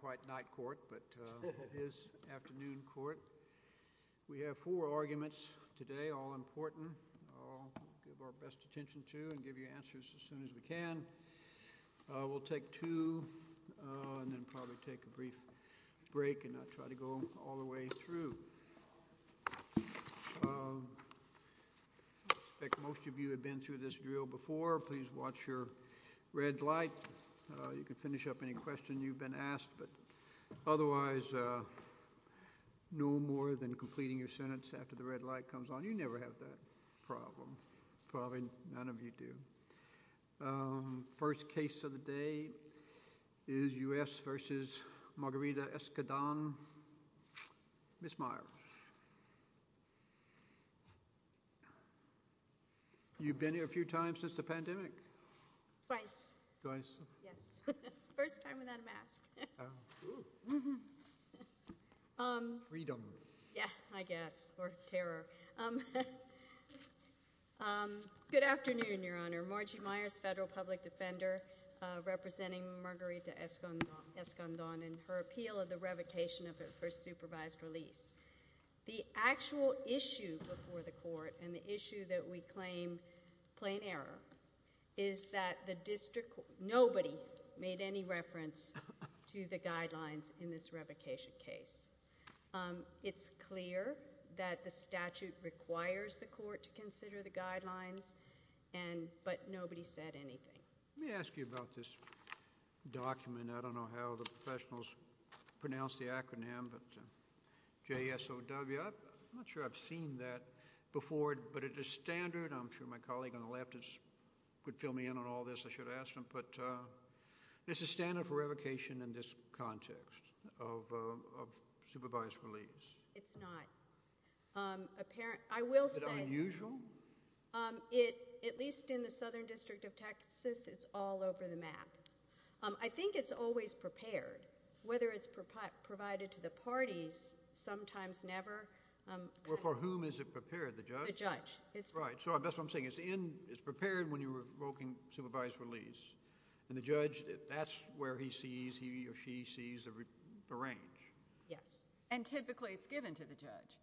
quite night court, but it is afternoon court. We have four arguments today, all important. I'll give our best attention to and give you answers as soon as we can. We'll take two and then probably take a brief break and not try to go all the way through. I expect most of you have been through this drill before. Please watch your red light. You can finish up any question you've been asked, but otherwise no more than completing your sentence after the red light comes on. You never have that problem. Probably none of you do. First case of the day is U.S. v. Margarita Escandon. Ms. Meyer. You've been here a few times since the pandemic? Twice. Twice. Yes. First time without a mask. Freedom. Yeah, I guess. Or terror. Good afternoon, Your Honor. Margie Meyers, federal public defender representing Margarita Escandon and her appeal of the revocation of her supervised release. The actual issue before the court and the issue that we claim plain error is that the district, nobody made any reference to the guidelines in this revocation case. It's clear that the statute requires the court to consider the guidelines, but nobody said anything. Let me ask you about this document. I don't know how the professionals pronounce the acronym, but J-S-O-W. I'm not sure I've seen that before, but it is standard. I'm sure my colleague on the left could fill me in on all this. I should have asked him, but it's a standard for revocation in this context of supervised release. It's not. I will say. Is it unusual? At least in the Southern District of Texas, it's all over the map. I think it's always prepared. Whether it's provided to the parties, sometimes never. Well, for whom is it prepared? The judge? The judge. Right. So that's what I'm saying. It's prepared when you're revoking supervised release. And the judge, that's where he sees, he or she sees the range. Yes. And typically it's given to the judge.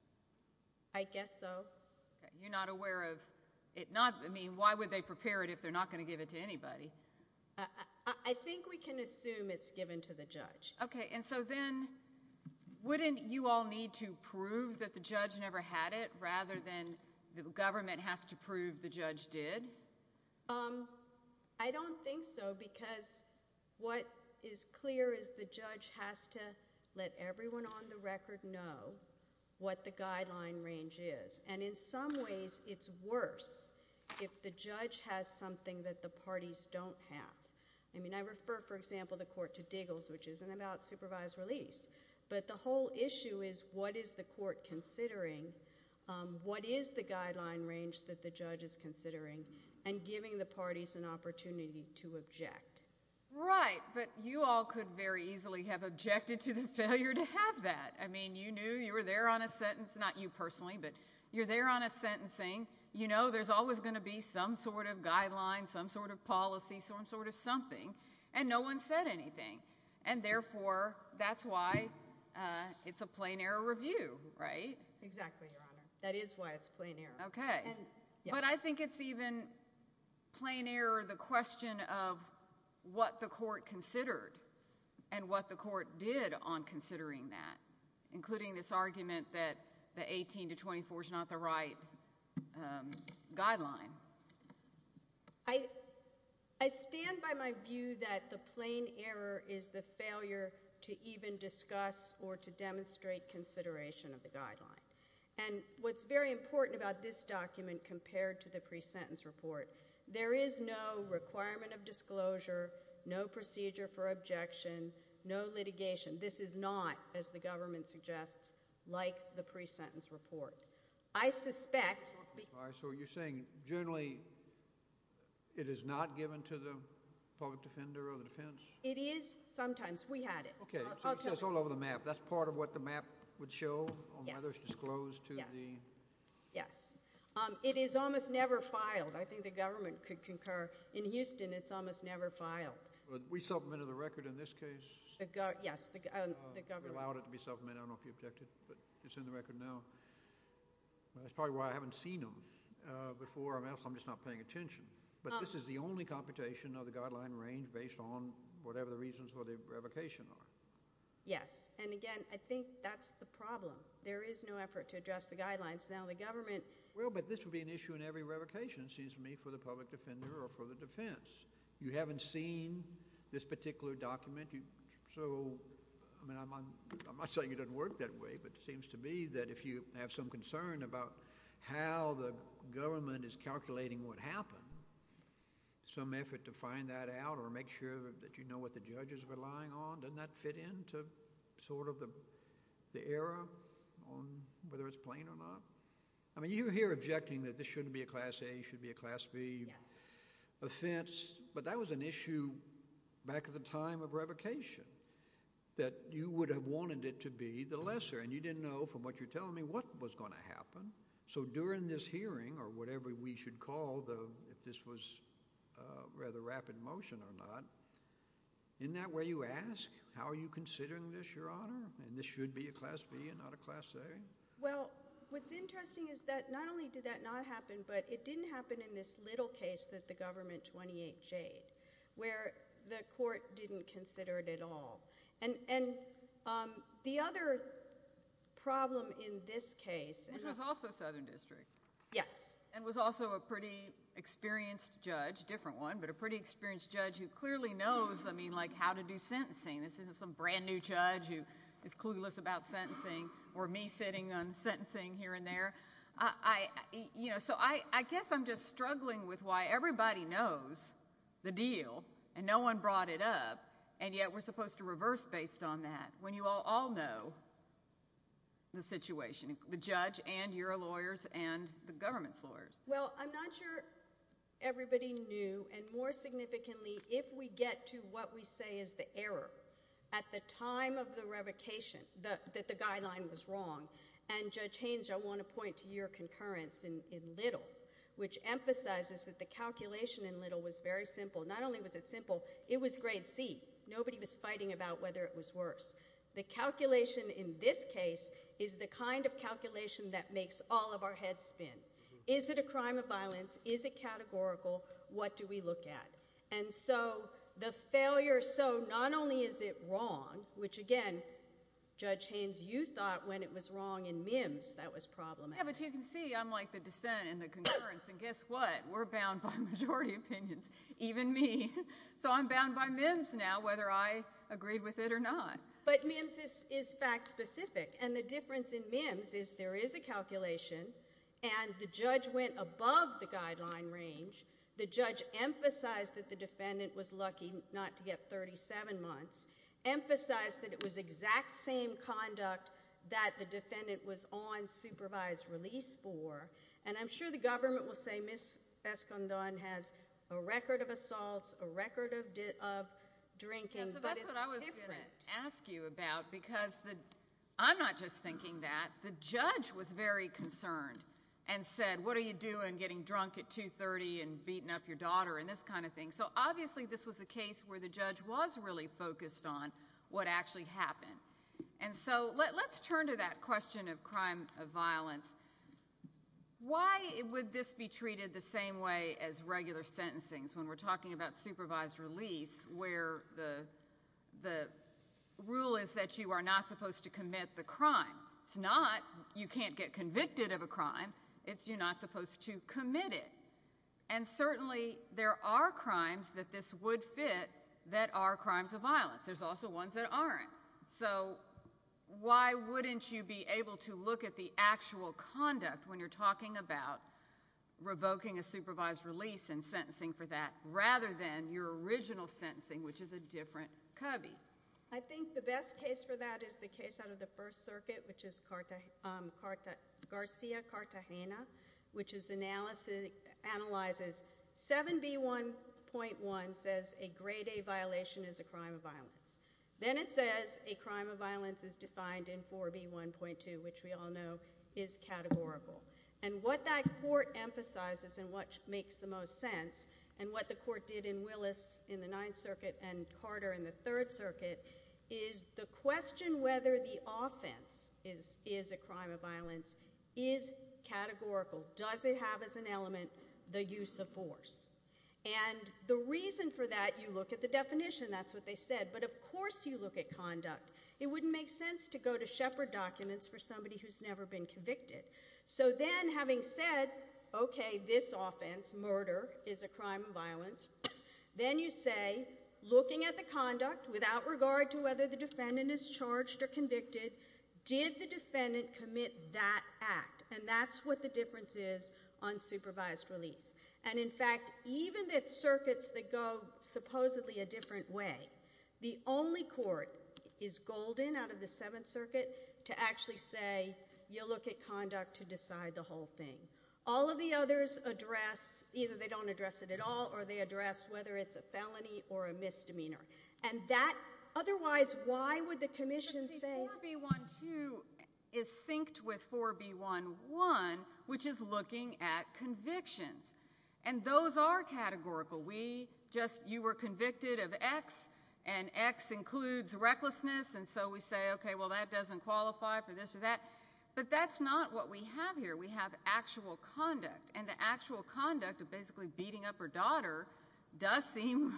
I guess so. You're not aware of it. I mean, why would they prepare it if they're not going to give it to anybody? I think we can assume it's given to the judge. Okay. And so then wouldn't you all need to prove that the judge never had it rather than the government has to prove the judge did? I don't think so because what is clear is the judge has to let everyone on the record know what the guideline range is. And in some ways, it's worse if the judge has something that the parties don't have. I mean, I refer, for example, the court to Diggles, which isn't about supervised release. But the whole issue is what is the court considering? What is the guideline range that the judge is considering? And giving the parties an opportunity to object. Right. But you all could very easily have objected to the failure to have that. I mean, you knew you were there on a sentence, not you personally, but you're there on a sentencing. You know, there's always going to be some sort of guideline, some sort of policy, some sort of something. And no one said anything. And therefore, that's why it's a plain error review, right? Exactly, Your Honor. That is why it's plain error. Okay. But I think it's even plain error, the question of what the court considered and what the court did on considering that, including this argument that the 18 to 24 is not the right guideline. I stand by my view that the plain error is the failure to even discuss or to demonstrate consideration of the guideline. And what's very important about this document compared to the pre-sentence report, there is no requirement of disclosure, no procedure for objection, no litigation. This is not, as the government suggests, like the pre-sentence report. I suspect... So you're saying generally it is not given to the public defender or the defense? It is sometimes. We had it. Okay. So it says all over the map. That's part of what the map would show on whether it's disclosed to the... Yes. It is almost never filed. I think the government could concur. In Houston, it's almost never filed. But we supplemented the record in this case? Yes, the government. Allowed it to be supplemented. I don't know if you objected, but it's in the record now. That's probably why I haven't seen them before. I'm just not paying attention. But this is the only computation of the guideline range based on whatever the reasons for the revocation are. Yes. And again, I think that's the problem. There is no effort to address the guidelines. Now the government... Well, but this would be an issue in every revocation, it seems to me, for the public defender or for the defense. You haven't seen this particular document. So I'm not saying it doesn't work that way, but it seems to me that if you have some concern about how the government is calculating what happened, some effort to find that out or make sure that you know what the judges are relying on, doesn't that fit into sort of the era on whether it's plain or not? I mean, you're here objecting that this shouldn't be a Class A, should be a Class B offense, but that was an issue back at the time of revocation that you would have wanted it to be the lesser, and you didn't know from what you're telling me what was going to happen. So during this hearing or whatever we should call the, if this was rather rapid motion or not, in that way you ask, how are you considering this, Your Honor, and this should be a Class B and not a Class A? Well, what's interesting is that not only did that not happen, but it didn't happen in this little case that the government 28J'd, where the court didn't consider it at all. And the other problem in this case— Which was also Southern District. Yes. And was also a pretty experienced judge, different one, but a pretty experienced judge who clearly knows, I mean, like how to do sentencing. This isn't some brand new judge who is clueless about sentencing or me sitting on sentencing here and there. You know, so I guess I'm just struggling with why everybody knows the deal and no one brought it up, and yet we're supposed to reverse based on that when you all know the situation, the judge and your lawyers and the government's lawyers. Well, I'm not sure everybody knew, and more significantly, if we get to what we say is the error. At the time of the revocation, that the guideline was wrong, and Judge Haynes, I want to point to your concurrence in Little, which emphasizes that the calculation in Little was very simple. Not only was it simple, it was Grade C. Nobody was fighting about whether it was worse. The calculation in this case is the kind of calculation that makes all of our heads spin. Is it a crime of violence? Is it categorical? What do we look at? And so the failure, so not only is it wrong, which again, Judge Haynes, you thought when it was wrong in MIMS that was problematic. Yeah, but you can see I'm like the dissent and the concurrence, and guess what? We're bound by majority opinions, even me. So I'm bound by MIMS now, whether I agreed with it or not. But MIMS is fact specific, and the difference in MIMS is there is a calculation, and the defendant was lucky not to get 37 months, emphasized that it was exact same conduct that the defendant was on supervised release for, and I'm sure the government will say Ms. Escondon has a record of assaults, a record of drinking, but it's different. That's what I was going to ask you about, because I'm not just thinking that. The judge was very concerned and said, what are you doing getting drunk at 2.30 and beating up your daughter and this kind of thing? So obviously this was a case where the judge was really focused on what actually happened. And so let's turn to that question of crime of violence. Why would this be treated the same way as regular sentencing, when we're talking about supervised release, where the rule is that you are not supposed to commit the crime. It's not you can't get convicted of a crime, it's you're not supposed to commit it. And certainly there are crimes that this would fit that are crimes of violence. There's also ones that aren't. So why wouldn't you be able to look at the actual conduct when you're talking about revoking a supervised release and sentencing for that, rather than your original sentencing, which is a different cubby? I think the best case for that is the case out of the First Circuit, which is Garcia-Cartagena, which analyzes 7B1.1, says a grade A violation is a crime of violence. Then it says a crime of violence is defined in 4B1.2, which we all know is categorical. And what that court emphasizes and what makes the most sense, and what the court did in Willis in the Ninth Circuit, is the question whether the offense is a crime of violence is categorical. Does it have as an element the use of force? And the reason for that, you look at the definition, that's what they said, but of course you look at conduct. It wouldn't make sense to go to Shepard documents for somebody who's never been convicted. So then, having said, okay, this offense, murder, is a crime of violence, then you say, looking at the conduct, without regard to whether the defendant is charged or convicted, did the defendant commit that act? And that's what the difference is on supervised release. And in fact, even the circuits that go supposedly a different way, the only court is Golden, out of the Seventh Circuit, to actually say, you look at conduct to decide the whole thing. All of the others address, either they don't address it at all, or they address whether it's a felony or a misdemeanor. And that, otherwise, why would the commission say- But see, 4B1-2 is synced with 4B1-1, which is looking at convictions. And those are categorical. We just, you were convicted of X, and X includes recklessness, and so we say, okay, well that doesn't qualify for this or that. But that's not what we have here. We have actual conduct. And the actual conduct of basically beating up her daughter does seem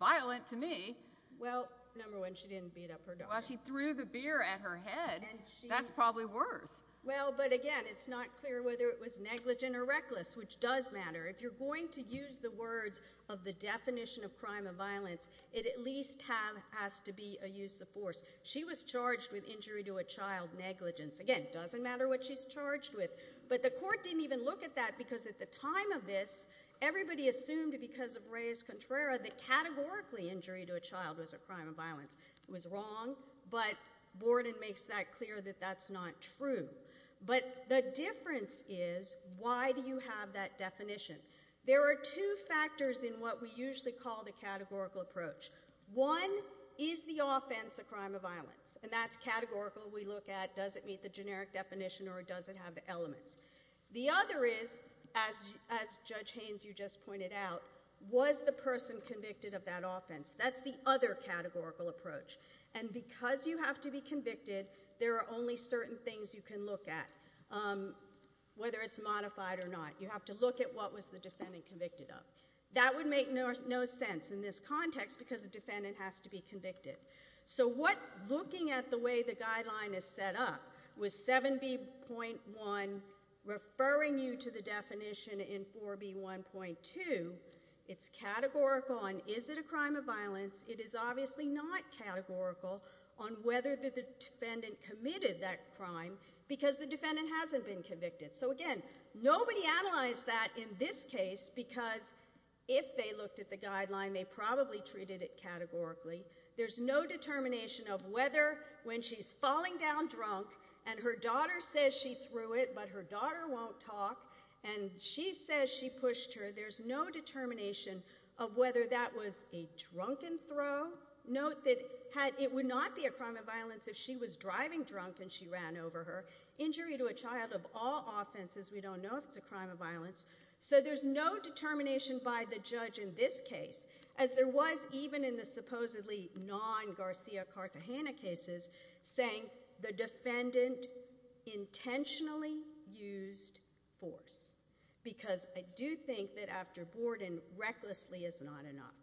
violent to me. Well, number one, she didn't beat up her daughter. Well, she threw the beer at her head. That's probably worse. Well, but again, it's not clear whether it was negligent or reckless, which does matter. If you're going to use the words of the definition of crime of violence, it at least has to be a use of force. She was charged with injury to a child, negligence. Again, doesn't matter what she's charged with. But the court didn't even look at that because at the time of this, everybody assumed because of Reyes-Contrera that categorically injury to a child was a crime of violence. It was wrong, but Borden makes that clear that that's not true. But the difference is, why do you have that definition? There are two factors in what we usually call the categorical approach. One is the offense of crime of violence, and that's categorical. We look at does it meet the generic definition or does it have the elements? The other is, as Judge Haynes, you just pointed out, was the person convicted of that offense? That's the other categorical approach. And because you have to be convicted, there are only certain things you can look at, whether it's modified or not. You have to look at what was the defendant convicted of. That would make no sense in this context because the defendant has to be convicted. So looking at the way the guideline is set up, with 7B.1 referring you to the definition in 4B.1.2, it's categorical on is it a crime of violence. It is obviously not categorical on whether the defendant committed that crime because the defendant hasn't been convicted. So again, nobody analyzed that in this case because if they looked at the guideline, they probably treated it categorically. There's no determination of whether when she's falling down drunk and her daughter says she threw it, but her daughter won't talk, and she says she pushed her, there's no determination of whether that was a drunken throw. Note that it would not be a crime of violence if she was driving drunk and she ran over her. Injury to a child of all offenses, we don't know if it's a crime of violence. So there's no determination by the judge in this case, as there was even in the supposedly non-Garcia-Cartagena cases, saying the defendant intentionally used force. Because I do think that after Borden, recklessly is not enough.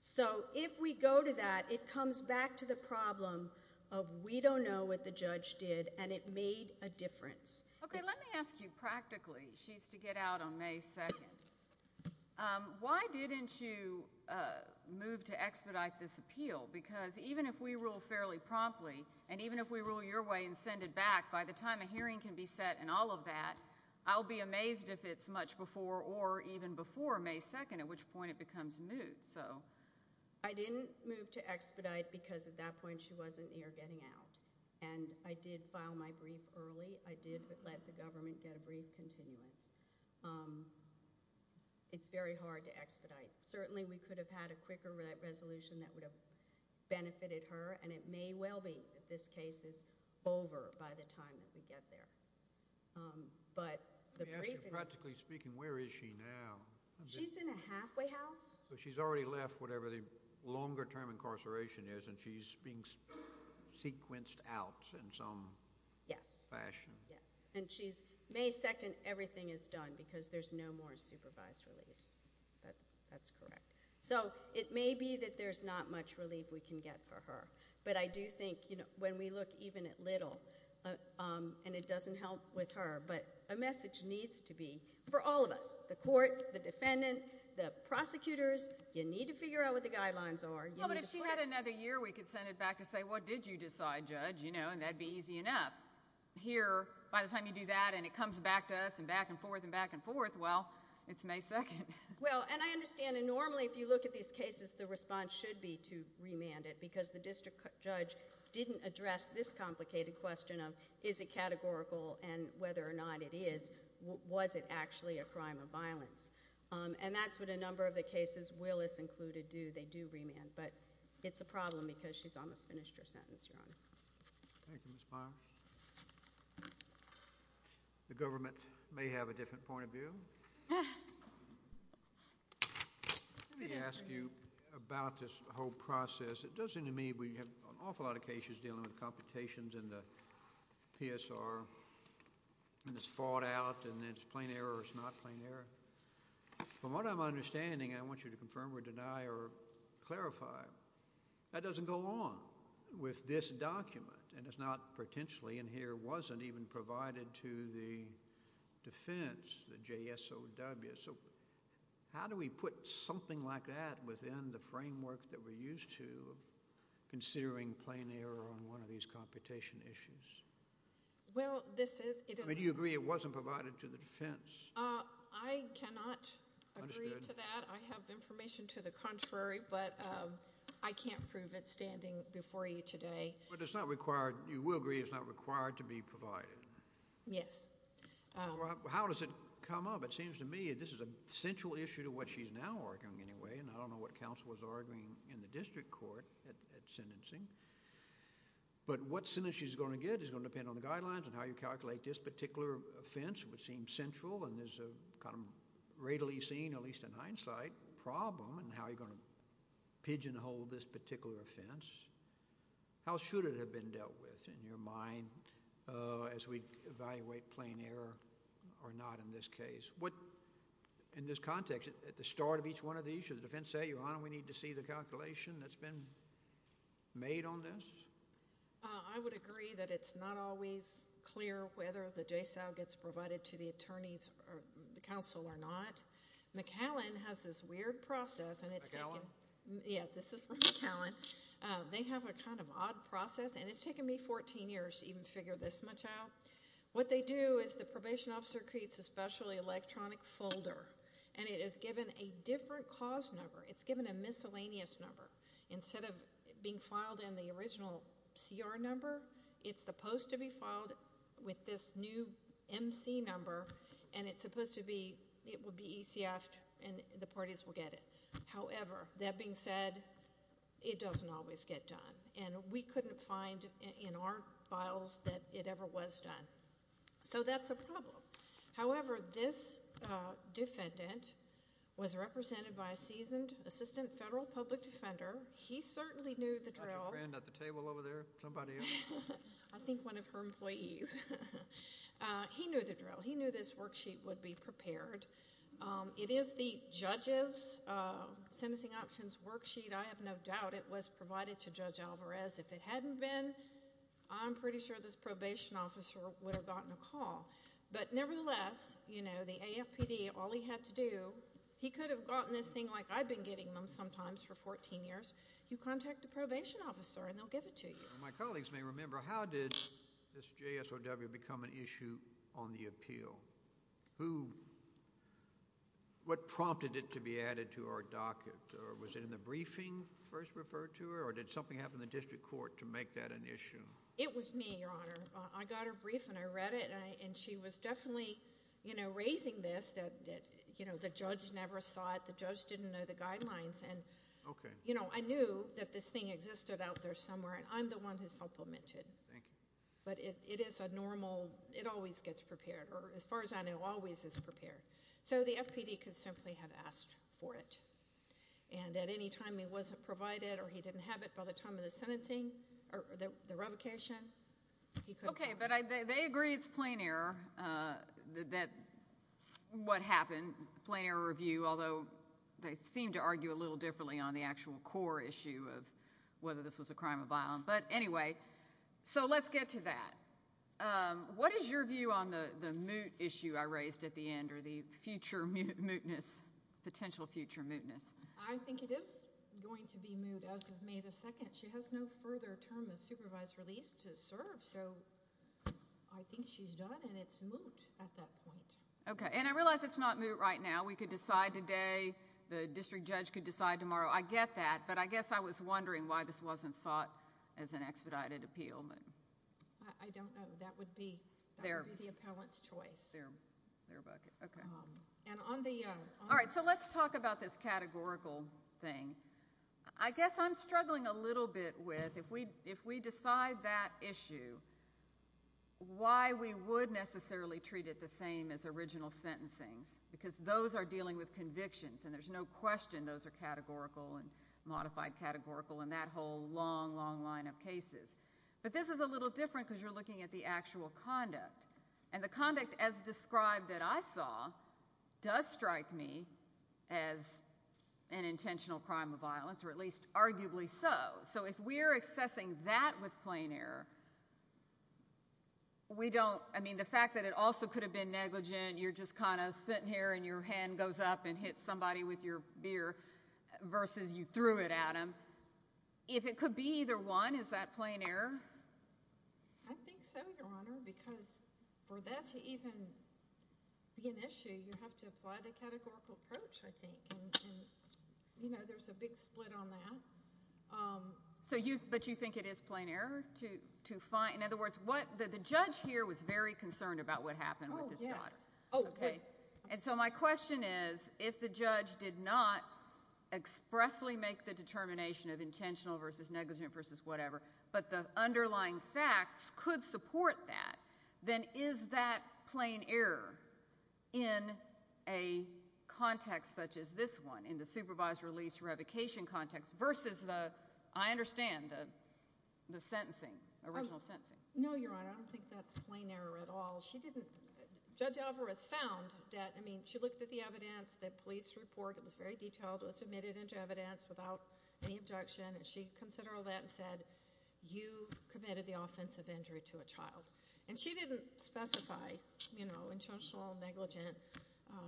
So if we go to that, it comes back to the problem of we don't know what the judge did and it made a difference. Okay, let me ask you practically. She's to get out on May 2nd. Why didn't you move to expedite this appeal? Because even if we rule fairly promptly, and even if we rule your way and send it back, by the time a hearing can be set and all of that, I'll be amazed if it's much before or even before May 2nd, at which point it becomes moot. I didn't move to expedite because at that point she wasn't near getting out. And I did file my brief early. I did let the government get a brief continuance. It's very hard to expedite. Certainly we could have had a quicker resolution that would have benefited her, and it may well be that this case is over by the time that we get there. Let me ask you practically speaking, where is she now? She's in a halfway house. She's already left whatever the longer term incarceration is, and she's being sequenced out in some fashion. Yes. And she's May 2nd, everything is done because there's no more supervised release. That's correct. So it may be that there's not much relief we can get for her. But I do think when we look even at little, and it doesn't help with her, but a message needs to be for all of us, the court, the defendant, the prosecutors, you need to figure out what the guidelines are. Well, but if she had another year, we could send it back to say, what did you decide, judge? And that'd be easy enough. Here, by the time you do that and it comes back to us and back and forth and back and forth, well, it's May 2nd. Well, and I understand, and normally if you look at these cases, the response should be to remand it, because the district judge didn't address this complicated question of, is it categorical, and whether or not it is, was it actually a crime of violence? And that's what a number of the cases, Willis included, do. They do remand. But it's a problem because she's almost finished her sentence, Your Honor. Thank you, Ms. Meyer. The government may have a different point of view. Let me ask you about this whole process. It does seem to me we have an awful lot of cases dealing with computations in the PSR, and it's thought out, and it's plain error or it's not plain error. From what I'm understanding, I want you to confirm or deny or clarify, that doesn't go along with this document, and it's not potentially, and here wasn't even provided to the defense, the JSOW. So how do we put something like that within the framework that we're used to, considering plain error on one of these computation issues? Well, this is... Do you agree it wasn't provided to the defense? I cannot agree to that. I have information to the contrary, but I can't prove it standing before you today. But it's not required, you will agree it's not required to be provided? Yes. How does it come up? It seems to me this is a central issue to what she's now arguing anyway, and I don't know what counsel was arguing in the district court at sentencing, but what sentence she's going to get is going to depend on the guidelines and how you calculate this particular offense, which seems central, and there's a kind of readily seen, at least in hindsight, problem in how you're going to pigeonhole this particular offense. How should it have been dealt with in your mind as we evaluate plain error or not in this case? What, in this context, at the start of each one of these, should the defense say, Your Honor, we need to see the calculation that's been made on this? I would agree that it's not always clear whether the JASAL gets provided to the attorneys or the counsel or not. McAllen has this weird process... McAllen? Yeah, this is from McAllen. They have a kind of odd process, and it's taken me 14 years to even figure this much out. What they do is the probation officer creates a special electronic folder, and it is given a different cause number. It's given a miscellaneous number. Instead of being filed in the original CR number, it's supposed to be filed with this new MC number, and it's supposed to be...it would be ECF'd, and the parties will get it. However, that being said, it doesn't always get done, and we couldn't find in our files that it ever was done. So that's a problem. However, this defendant was represented by a seasoned assistant federal public defender. He certainly knew the drill. Dr. Tran at the table over there? Somebody else? I think one of her employees. He knew the drill. He knew this worksheet would be prepared. It is the judge's sentencing options worksheet. I have no doubt it was provided to Judge Alvarez. If it hadn't been, I'm pretty sure this probation officer would have gotten a call. But nevertheless, you know, the AFPD, all he had to do...he could have gotten this thing like I've been getting them sometimes for 14 years. You contact the probation officer, and they'll give it to you. My colleagues may remember, how did this JSOW become an issue on the appeal? Who...what prompted it to be added to our docket? Was it in the briefing first referred to, or did something happen in the district court to make that an issue? It was me, Your Honor. I got her brief, and I read it, and she was definitely, you know, raising this, that, you know, the judge never saw it. The judge didn't know the guidelines. And, you know, I knew that this thing existed out there somewhere, and I'm the one who supplemented. Thank you. But it is a normal...it always gets prepared, or as far as I know, always is prepared. So the FPD could simply have asked for it. And at any time he wasn't provided, or he didn't have it by the time of the sentencing, or the revocation, he could... Okay, but they agree it's plain error that what happened, plain error review, although they seem to argue a little differently on the actual core issue of whether this was a crime of violence. But anyway, so let's get to that. What is your view on the moot issue I raised at the end, or the future mootness, potential future mootness? I think it is going to be moot as of May 2nd. She has no further term of supervised release to serve, so I think she's done, and it's moot at that point. Okay, and I realize it's not moot right now. We could decide today, the district judge could decide tomorrow. I get that, but I guess I was wondering why this wasn't sought as an expedited appeal. I don't know. That would be the appellant's choice. All right, so let's talk about this categorical thing. I guess I'm struggling a little bit with, if we decide that issue, why we would necessarily treat it the same as original sentencing, because those are dealing with convictions, and there's no question those are categorical, and modified categorical, and that whole long, long line of cases. But this is a little different, because you're looking at the actual conduct. And the conduct as described that I saw, does strike me as an intentional crime of violence, or at least arguably so. So if we're accessing that with plain error, we don't, I mean, the fact that it also could have been negligent, you're just kind of sitting here, and your hand goes up, and hits somebody with your beer, versus you threw it at them. If it could be either one, is that plain error? I think so, Your Honor, because for that to even be an issue, you have to apply the categorical approach, I think. And, you know, there's a big split on that. But you think it is plain error? In other words, the judge here was very concerned about what happened with this guy. Oh, yes. And so my question is, if the judge did not expressly make the determination of intentional versus negligent versus whatever, but the underlying facts could support that, then is that plain error in a context such as this one, in the supervised release revocation context, versus the, I understand, the sentencing, original sentencing? No, Your Honor, I don't think that's plain error at all. Judge Alvarez found that, I mean, she looked at the evidence, the police report, it was very detailed, it was submitted into evidence without any objection, and she considered all that and said, you committed the offensive injury to a child. And she didn't specify, you know, intentional or negligent.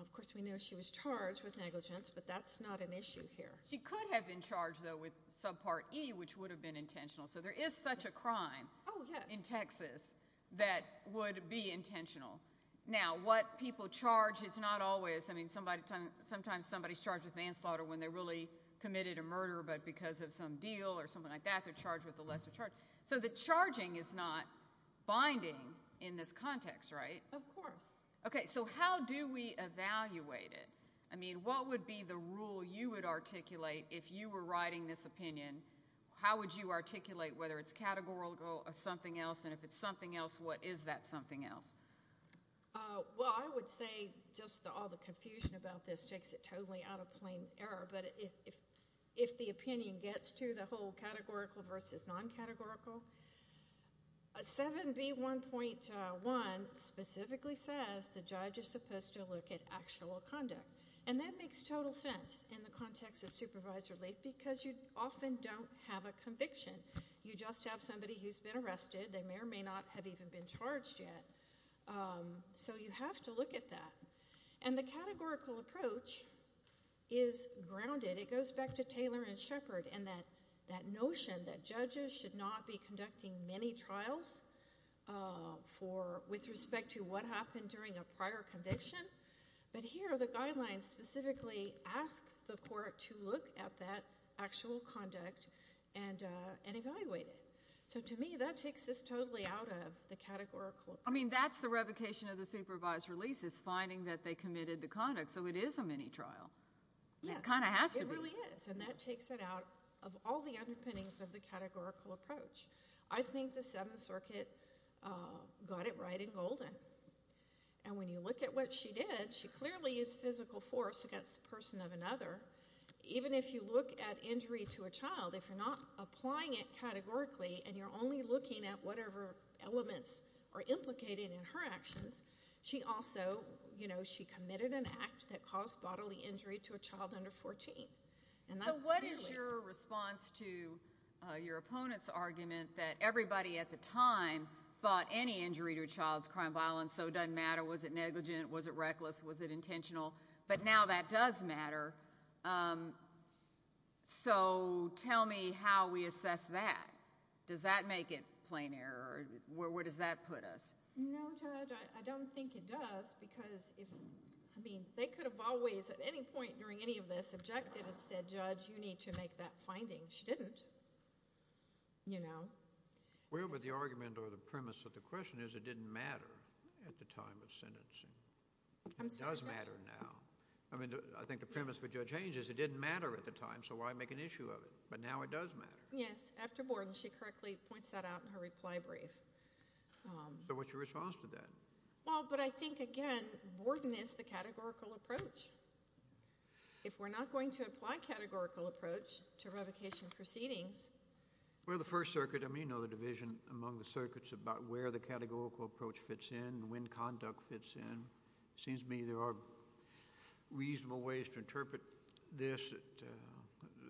Of course, we know she was charged with negligence, but that's not an issue here. She could have been charged, though, with Subpart E, which would have been intentional. So there is such a crime in Texas that would be intentional. Now, what people charge is not always, I mean, sometimes somebody's charged with manslaughter when they really committed a murder, but because of some deal or something like that, they're charged with a lesser charge. So the charging is not binding in this context, right? Of course. Okay, so how do we evaluate it? I mean, what would be the rule you would articulate if you were writing this opinion? How would you articulate, whether it's categorical or something else, and if it's something else, what is that something else? Well, I would say just all the confusion about this takes it totally out of plain error. But if the opinion gets to the whole categorical versus non-categorical, 7B1.1 specifically says the judge is supposed to look at actual conduct. And that makes total sense in the context of supervised relief because you often don't have a conviction. You just have somebody who's been arrested. They may or may not have even been charged yet. So you have to look at that. And the categorical approach is grounded. It goes back to Taylor and Shepard and that notion that judges should not be conducting many trials with respect to what happened during a prior conviction. But here, the guidelines specifically ask the court to look at that actual conduct and evaluate it. So to me, that takes this totally out of the categorical approach. I mean, that's the revocation of the supervised releases, finding that they committed the conduct. So it is a mini-trial. It kind of has to be. It really is. And that takes it out of all the underpinnings of the categorical approach. I think the Seventh Circuit got it right in Golden. And when you look at what she did, she clearly used physical force against the person of another. Even if you look at injury to a child, if you're not applying it categorically and you're only looking at whatever elements are implicated in her actions, she also committed an act that caused bodily injury to a child under 14. So what is your response to your opponent's argument that everybody at the time thought any injury to a child's crime of violence, so it doesn't matter, was it negligent, was it reckless, was it intentional? But now that does matter. So tell me how we assess that. Does that make it plain error? Where does that put us? No, Judge, I don't think it does, because, I mean, they could have always, at any point during any of this, objected and said, Judge, you need to make that finding. She didn't. You know? is it didn't matter at the time of sentencing. It does matter now. I mean, I think the premise for Judge Haynes is it didn't matter at the time, so why make an issue of it? But now it does matter. Yes, after Borden, she correctly points that out in her reply brief. So what's your response to that? Well, but I think, again, Borden is the categorical approach. If we're not going to apply categorical approach to revocation proceedings... Well, the First Circuit, I mean, the division among the circuits about where the categorical approach fits in and when conduct fits in, it seems to me there are reasonable ways to interpret this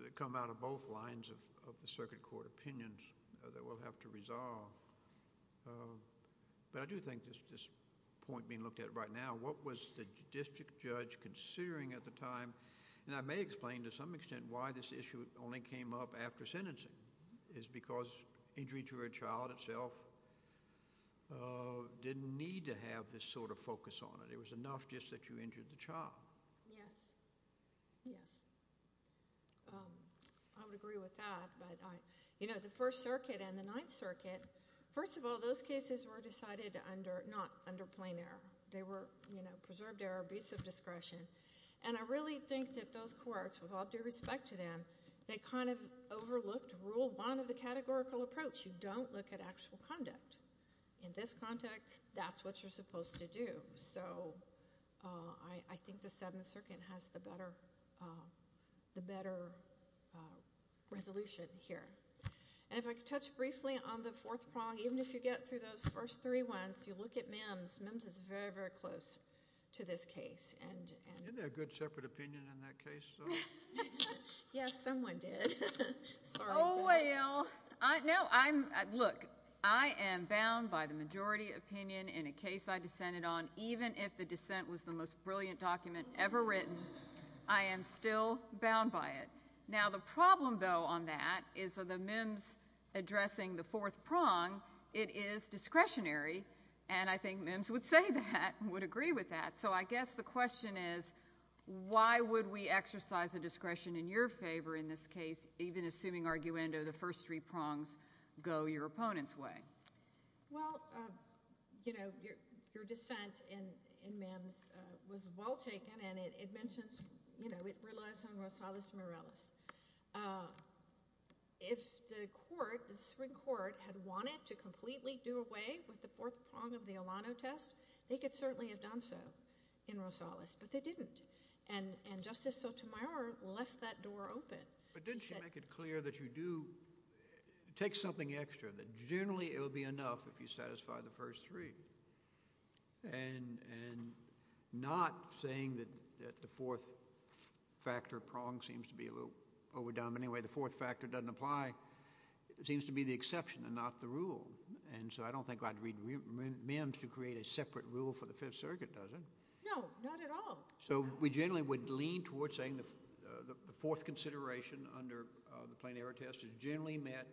that come out of both lines of the Circuit Court opinions that we'll have to resolve. But I do think this point being looked at right now, what was the district judge considering at the time? And I may explain to some extent why this issue only came up after sentencing, is because injury to a child itself didn't need to have this sort of focus on it. It was enough just that you injured the child. Yes. Yes. I would agree with that. You know, the First Circuit and the Ninth Circuit, first of all, those cases were decided not under plain error. They were, you know, preserved error, abuse of discretion. And I really think that those courts, with all due respect to them, they kind of overlooked rule one of the categorical approach. You don't look at actual conduct. In this context, that's what you're supposed to do. So I think the Seventh Circuit has the better resolution here. And if I could touch briefly on the fourth prong, even if you get through those first three ones, you look at MIMS. MIMS is very, very close to this case. Isn't there a good separate opinion in that case, though? Yes, someone did. Oh, well. Look, I am bound by the majority opinion in a case I dissented on, even if the dissent was the most brilliant document ever written. I am still bound by it. Now, the problem, though, on that is the MIMS addressing the fourth prong, it is discretionary. And I think MIMS would say that, would agree with that. So I guess the question is, why would we exercise a discretion in your favor in this case, even assuming, arguendo, the first three prongs go your opponent's way? Well, you know, your dissent in MIMS was well-taken, and it mentions, you know, it relies on Rosales Morales. If the court, the Supreme Court, had wanted to completely do away with the fourth prong of the Olano test, they could certainly have done so in Rosales, but they didn't. And Justice Sotomayor left that door open. But didn't she make it clear that you do take something extra, that generally it will be enough if you satisfy the first three? And not saying that the fourth factor prong seems to be a little overdone. But anyway, the fourth factor doesn't apply. It seems to be the exception and not the rule. And so I don't think I'd read MIMS to create a separate rule for the Fifth Circuit, does it? No, not at all. So we generally would lean towards saying the fourth consideration under the plain error test is generally met,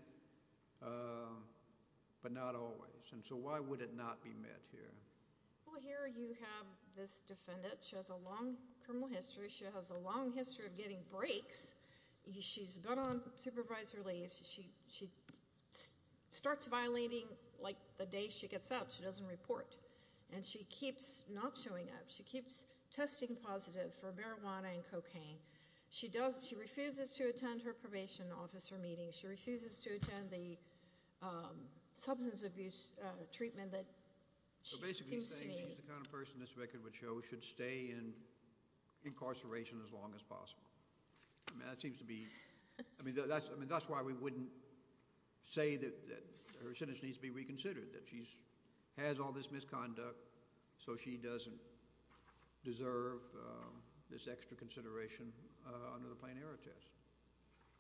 but not always. And so why would it not be met here? Well, here you have this defendant. She has a long criminal history. She has a long history of getting breaks. She's been on supervisory leave. She starts violating like the day she gets up. She doesn't report. And she keeps not showing up. She keeps testing positive for marijuana and cocaine. She does, she refuses to attend her probation officer meetings. She refuses to attend the substance abuse treatment that she seems to need. So basically saying she's the kind of person this record would show should stay in incarceration as long as possible. I mean, that seems to be, I mean, that's why we wouldn't say that her sentence needs to be reconsidered, that she has all this misconduct, so she doesn't deserve this extra consideration under the plain error test.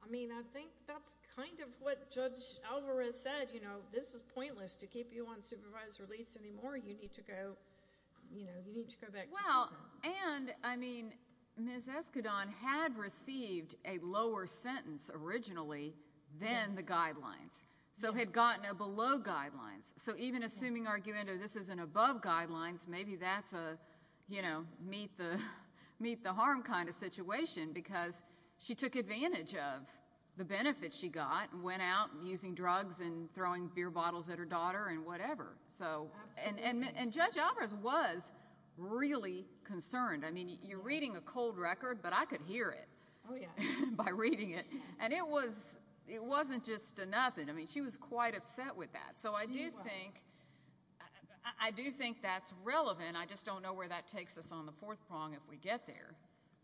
I mean, I think that's kind of what Judge Alvarez said, you know, this is pointless to keep you on supervisory leave anymore. You need to go, you know, you need to go back to prison. Well, and, I mean, Ms. Eskadon had received a lower sentence originally than the guidelines. So had gotten a below guidelines. So even assuming argument of this is an above guidelines, maybe that's a you know, meet the meet the harm kind of situation because she took advantage of the benefits she got and went out using drugs and throwing beer bottles at her daughter and whatever. So, and Judge Alvarez was really concerned. I mean, you're reading a cold record but I could hear it by reading it. And it was it wasn't just a nothing. I mean, she was quite upset with that. So I do think I do think that's relevant. I just don't know where that takes us on the fourth prong if we get there.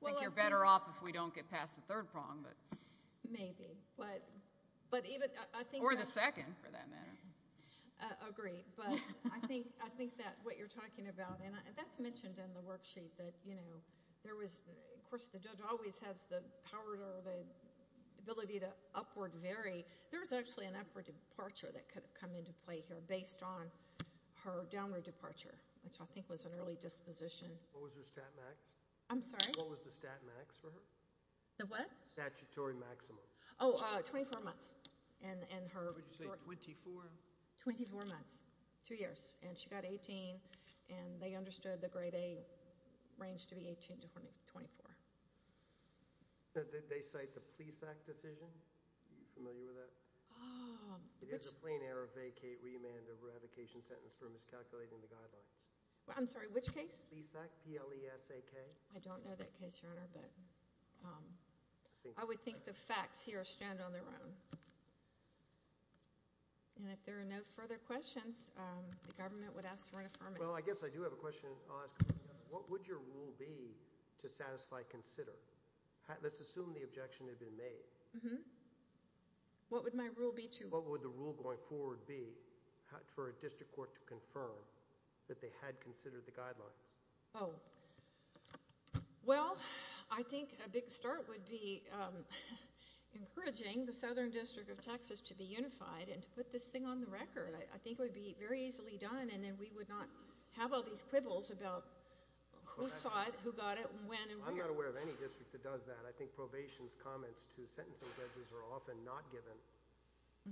I think you're better off if we don't get past the third prong. Maybe, but but even, I think, or the second for that matter. Agree. But I think that what you're talking about, and that's mentioned in the worksheet that, you know, there was of course, the judge always has the power or the ability to upward vary. There was actually an upward departure that could have come into play here based on her downward departure, which I think was an early disposition. What was her stat max? I'm sorry? What was the stat max for her? The what? Statutory maximum. Oh, 24 months. And her... Would you say 24? 24 months. Two years. And she got 18 and they understood the grade A range to be 18 to 24. Did they cite the PLESAC decision? Are you familiar with that? There's a plain error vacate remand eradication sentence for miscalculating the guidelines. I'm sorry, which case? PLESAC. P-L-E-S-A-K. I don't know that case, Your Honor, but I would think the facts here stand on their own. And if there are no further questions the government would ask for an affirmative. Well, I guess I do have a question I'll ask. What would your rule be to satisfy consider? Let's assume the objection had been made. What would my rule be to... What would the rule going forward be for a district court to confirm that they had considered the guidelines? Oh. Well, I think a big start would be encouraging the Southern District of Texas to be unified and to put this thing on the record. I think it would be very interesting to hear these quibbles about who saw it, who got it, when, and where. I'm not aware of any district that does that. I think probation's comments to sentencing judges are often not given.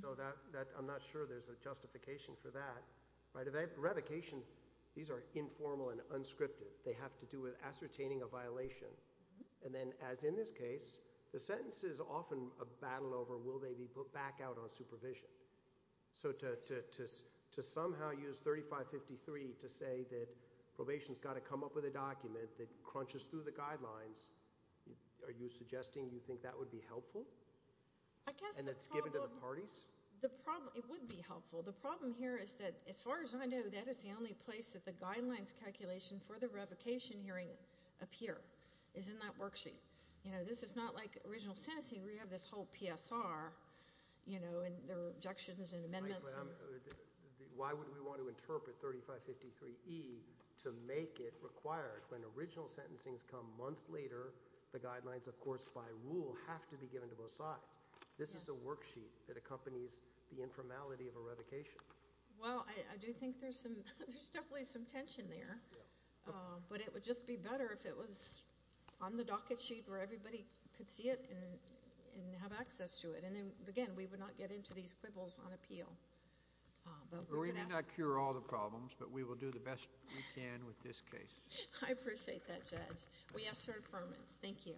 So I'm not sure there's a justification for that. Redication, these are informal and unscripted. They have to do with ascertaining a violation. And then, as in this case, the sentence is often a battle over will they be put back out on supervision? So to somehow use 3553 to say that probation's got to come up with a document that crunches through the guidelines, are you suggesting you think that would be helpful? And it's given to the parties? It would be helpful. The problem here is that, as far as I know, that is the only place that the guidelines calculation for the revocation hearing appear, is in that worksheet. This is not like original sentencing where you have this whole PSR and there are objections and amendments. Why would we want to interpret 3553E to make it required when original sentencing's come months later the guidelines, of course, by rule have to be given to both sides? This is a worksheet that accompanies the informality of a revocation. Well, I do think there's definitely some tension there. But it would just be better if it was on the docket sheet where everybody could see it and have access to it. And again, we would not get into these quibbles on appeal. We may not cure all the problems, but we will do the best we can with this case. I appreciate that, Judge. We ask for affirmance. Thank you.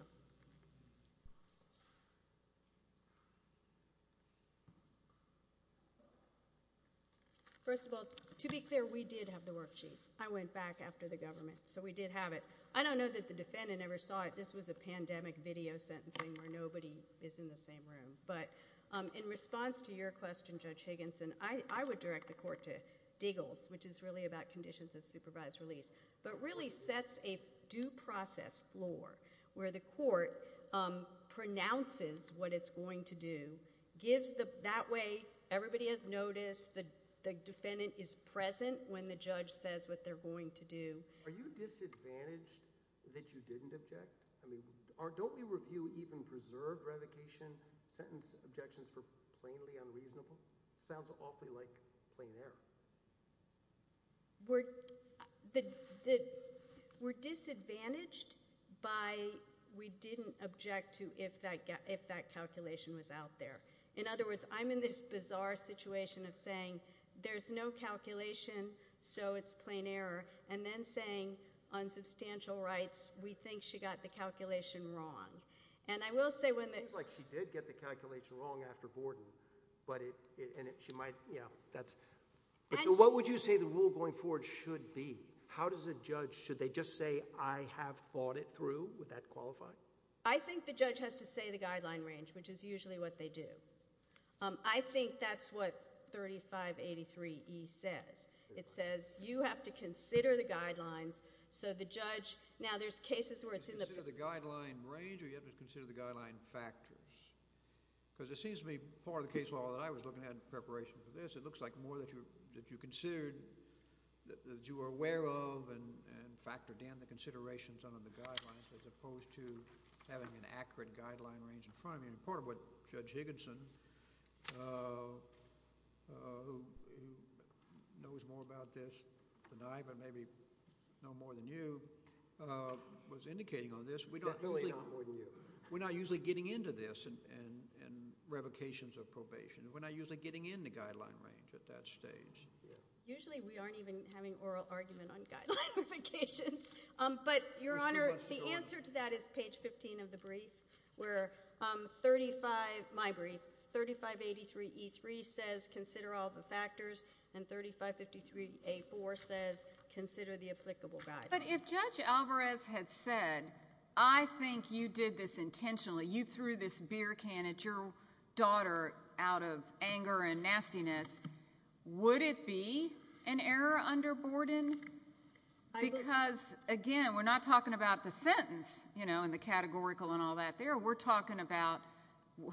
First of all, to be clear, we did have the worksheet. I went back after the government, so we did have it. I don't know that the defendant ever saw it. This was a pandemic video sentencing where nobody is in the same room. In response to your question, Judge Higginson, I would direct the court to Deagles, which is really about conditions of supervised release, but really sets a due process floor where the court pronounces what it's going to do, gives the way everybody has noticed, the defendant is present when the judge says what they're going to do. Are you disadvantaged that you didn't object? Don't we review even preserved revocation sentence objections for plainly unreasonable? Sounds awfully like plain error. We're disadvantaged by we didn't object to if that calculation was out there. In other words, I'm in this bizarre situation of saying there's no calculation, so it's plain error, and then saying on substantial rights, we think she got the calculation wrong. It seems like she did get the calculation wrong after Borden. What would you say the rule going forward should be? How does a judge, should they just say, I have thought it through? Would that qualify? I think the judge has to say the guideline range, which is usually what they do. I think that's what 3583E says. It says you have to consider the guidelines, so the judge now there's cases where it's in the guideline range or you have to consider the guideline factors. It seems to me part of the case law that I was looking at in preparation for this, it looks like more that you considered that you were aware of and factored in the considerations under the guidelines as opposed to having an accurate guideline range in front of you. Part of what Judge Higginson who knows more about this than I, but maybe no more than you, was indicating on this, we're not usually getting into this in revocations or probation. We're not usually getting into guideline range at that stage. Usually we aren't even having oral argument on guideline revocations, but Your Honor, the answer to that is page 15 of the brief where 35, my brief, 3583E3 says consider all the factors and 3553 A4 says consider the applicable guidelines. But if Judge Alvarez had said, I think you did this intentionally, you threw this beer can at your daughter out of anger and nastiness, would it be an error under Borden? Because again, we're not talking about the sentence in the categorical and all that there. We're talking about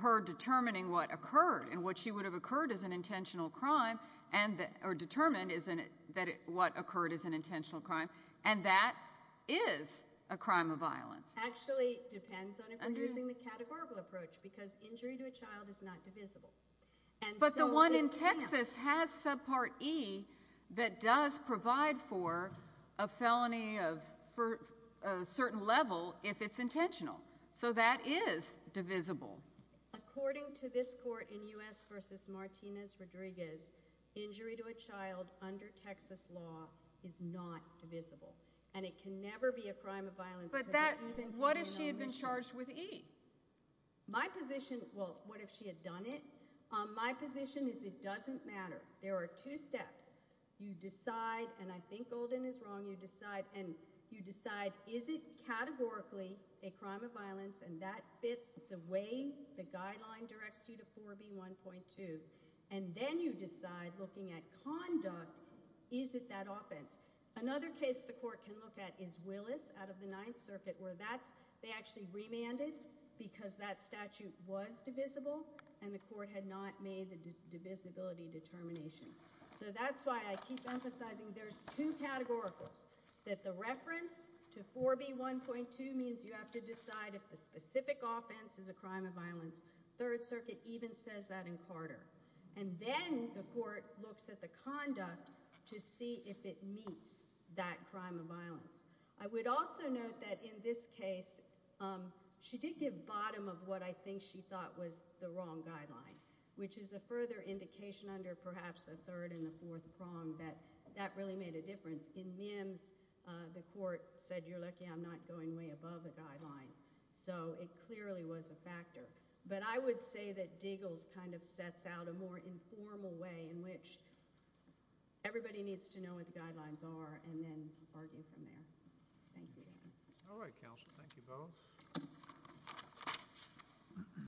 her determining what occurred and what she would have occurred as an intentional crime or determined what occurred as an intentional crime and that is a crime of violence. Actually it depends on using the categorical approach because injury to a child is not divisible. But the one in Texas has subpart E that does provide for a felony for a certain level if it's intentional. So that is divisible. According to this court in U.S. versus Martinez-Rodriguez injury to a child under Texas law is not divisible and it can never be a crime of violence. But that, what if she had been charged with E? My position, well what if she had done it? My position is it doesn't matter. There are two steps. You decide and I think Golden is wrong, you decide and you decide is it categorically a crime of violence and that fits the way the guideline directs you to 4B1.2 and then you decide looking at conduct is it that offense? Another case the court can look at is Willis out of the Ninth Circuit where that's they actually remanded because that statute was divisible and the court had not made the divisibility determination. So that's why I keep emphasizing there's two categoricals. That the reference to 4B1.2 means you have to decide if the specific offense is a crime of violence. Third Circuit even says that in Carter and then the court looks at the conduct to see if it meets that crime of violence. I would also note that in this case she did give bottom of what I think she thought was the wrong guideline which is a further indication under perhaps the third and the fourth prong that that really made a difference in Mims the court said you're lucky I'm not going way above the guideline. So it clearly was a factor. But I would say that Diggles kind of sets out a more informal way in which everybody needs to know what the guidelines are and then argue from there. Thank you. Alright counsel. Thank you both.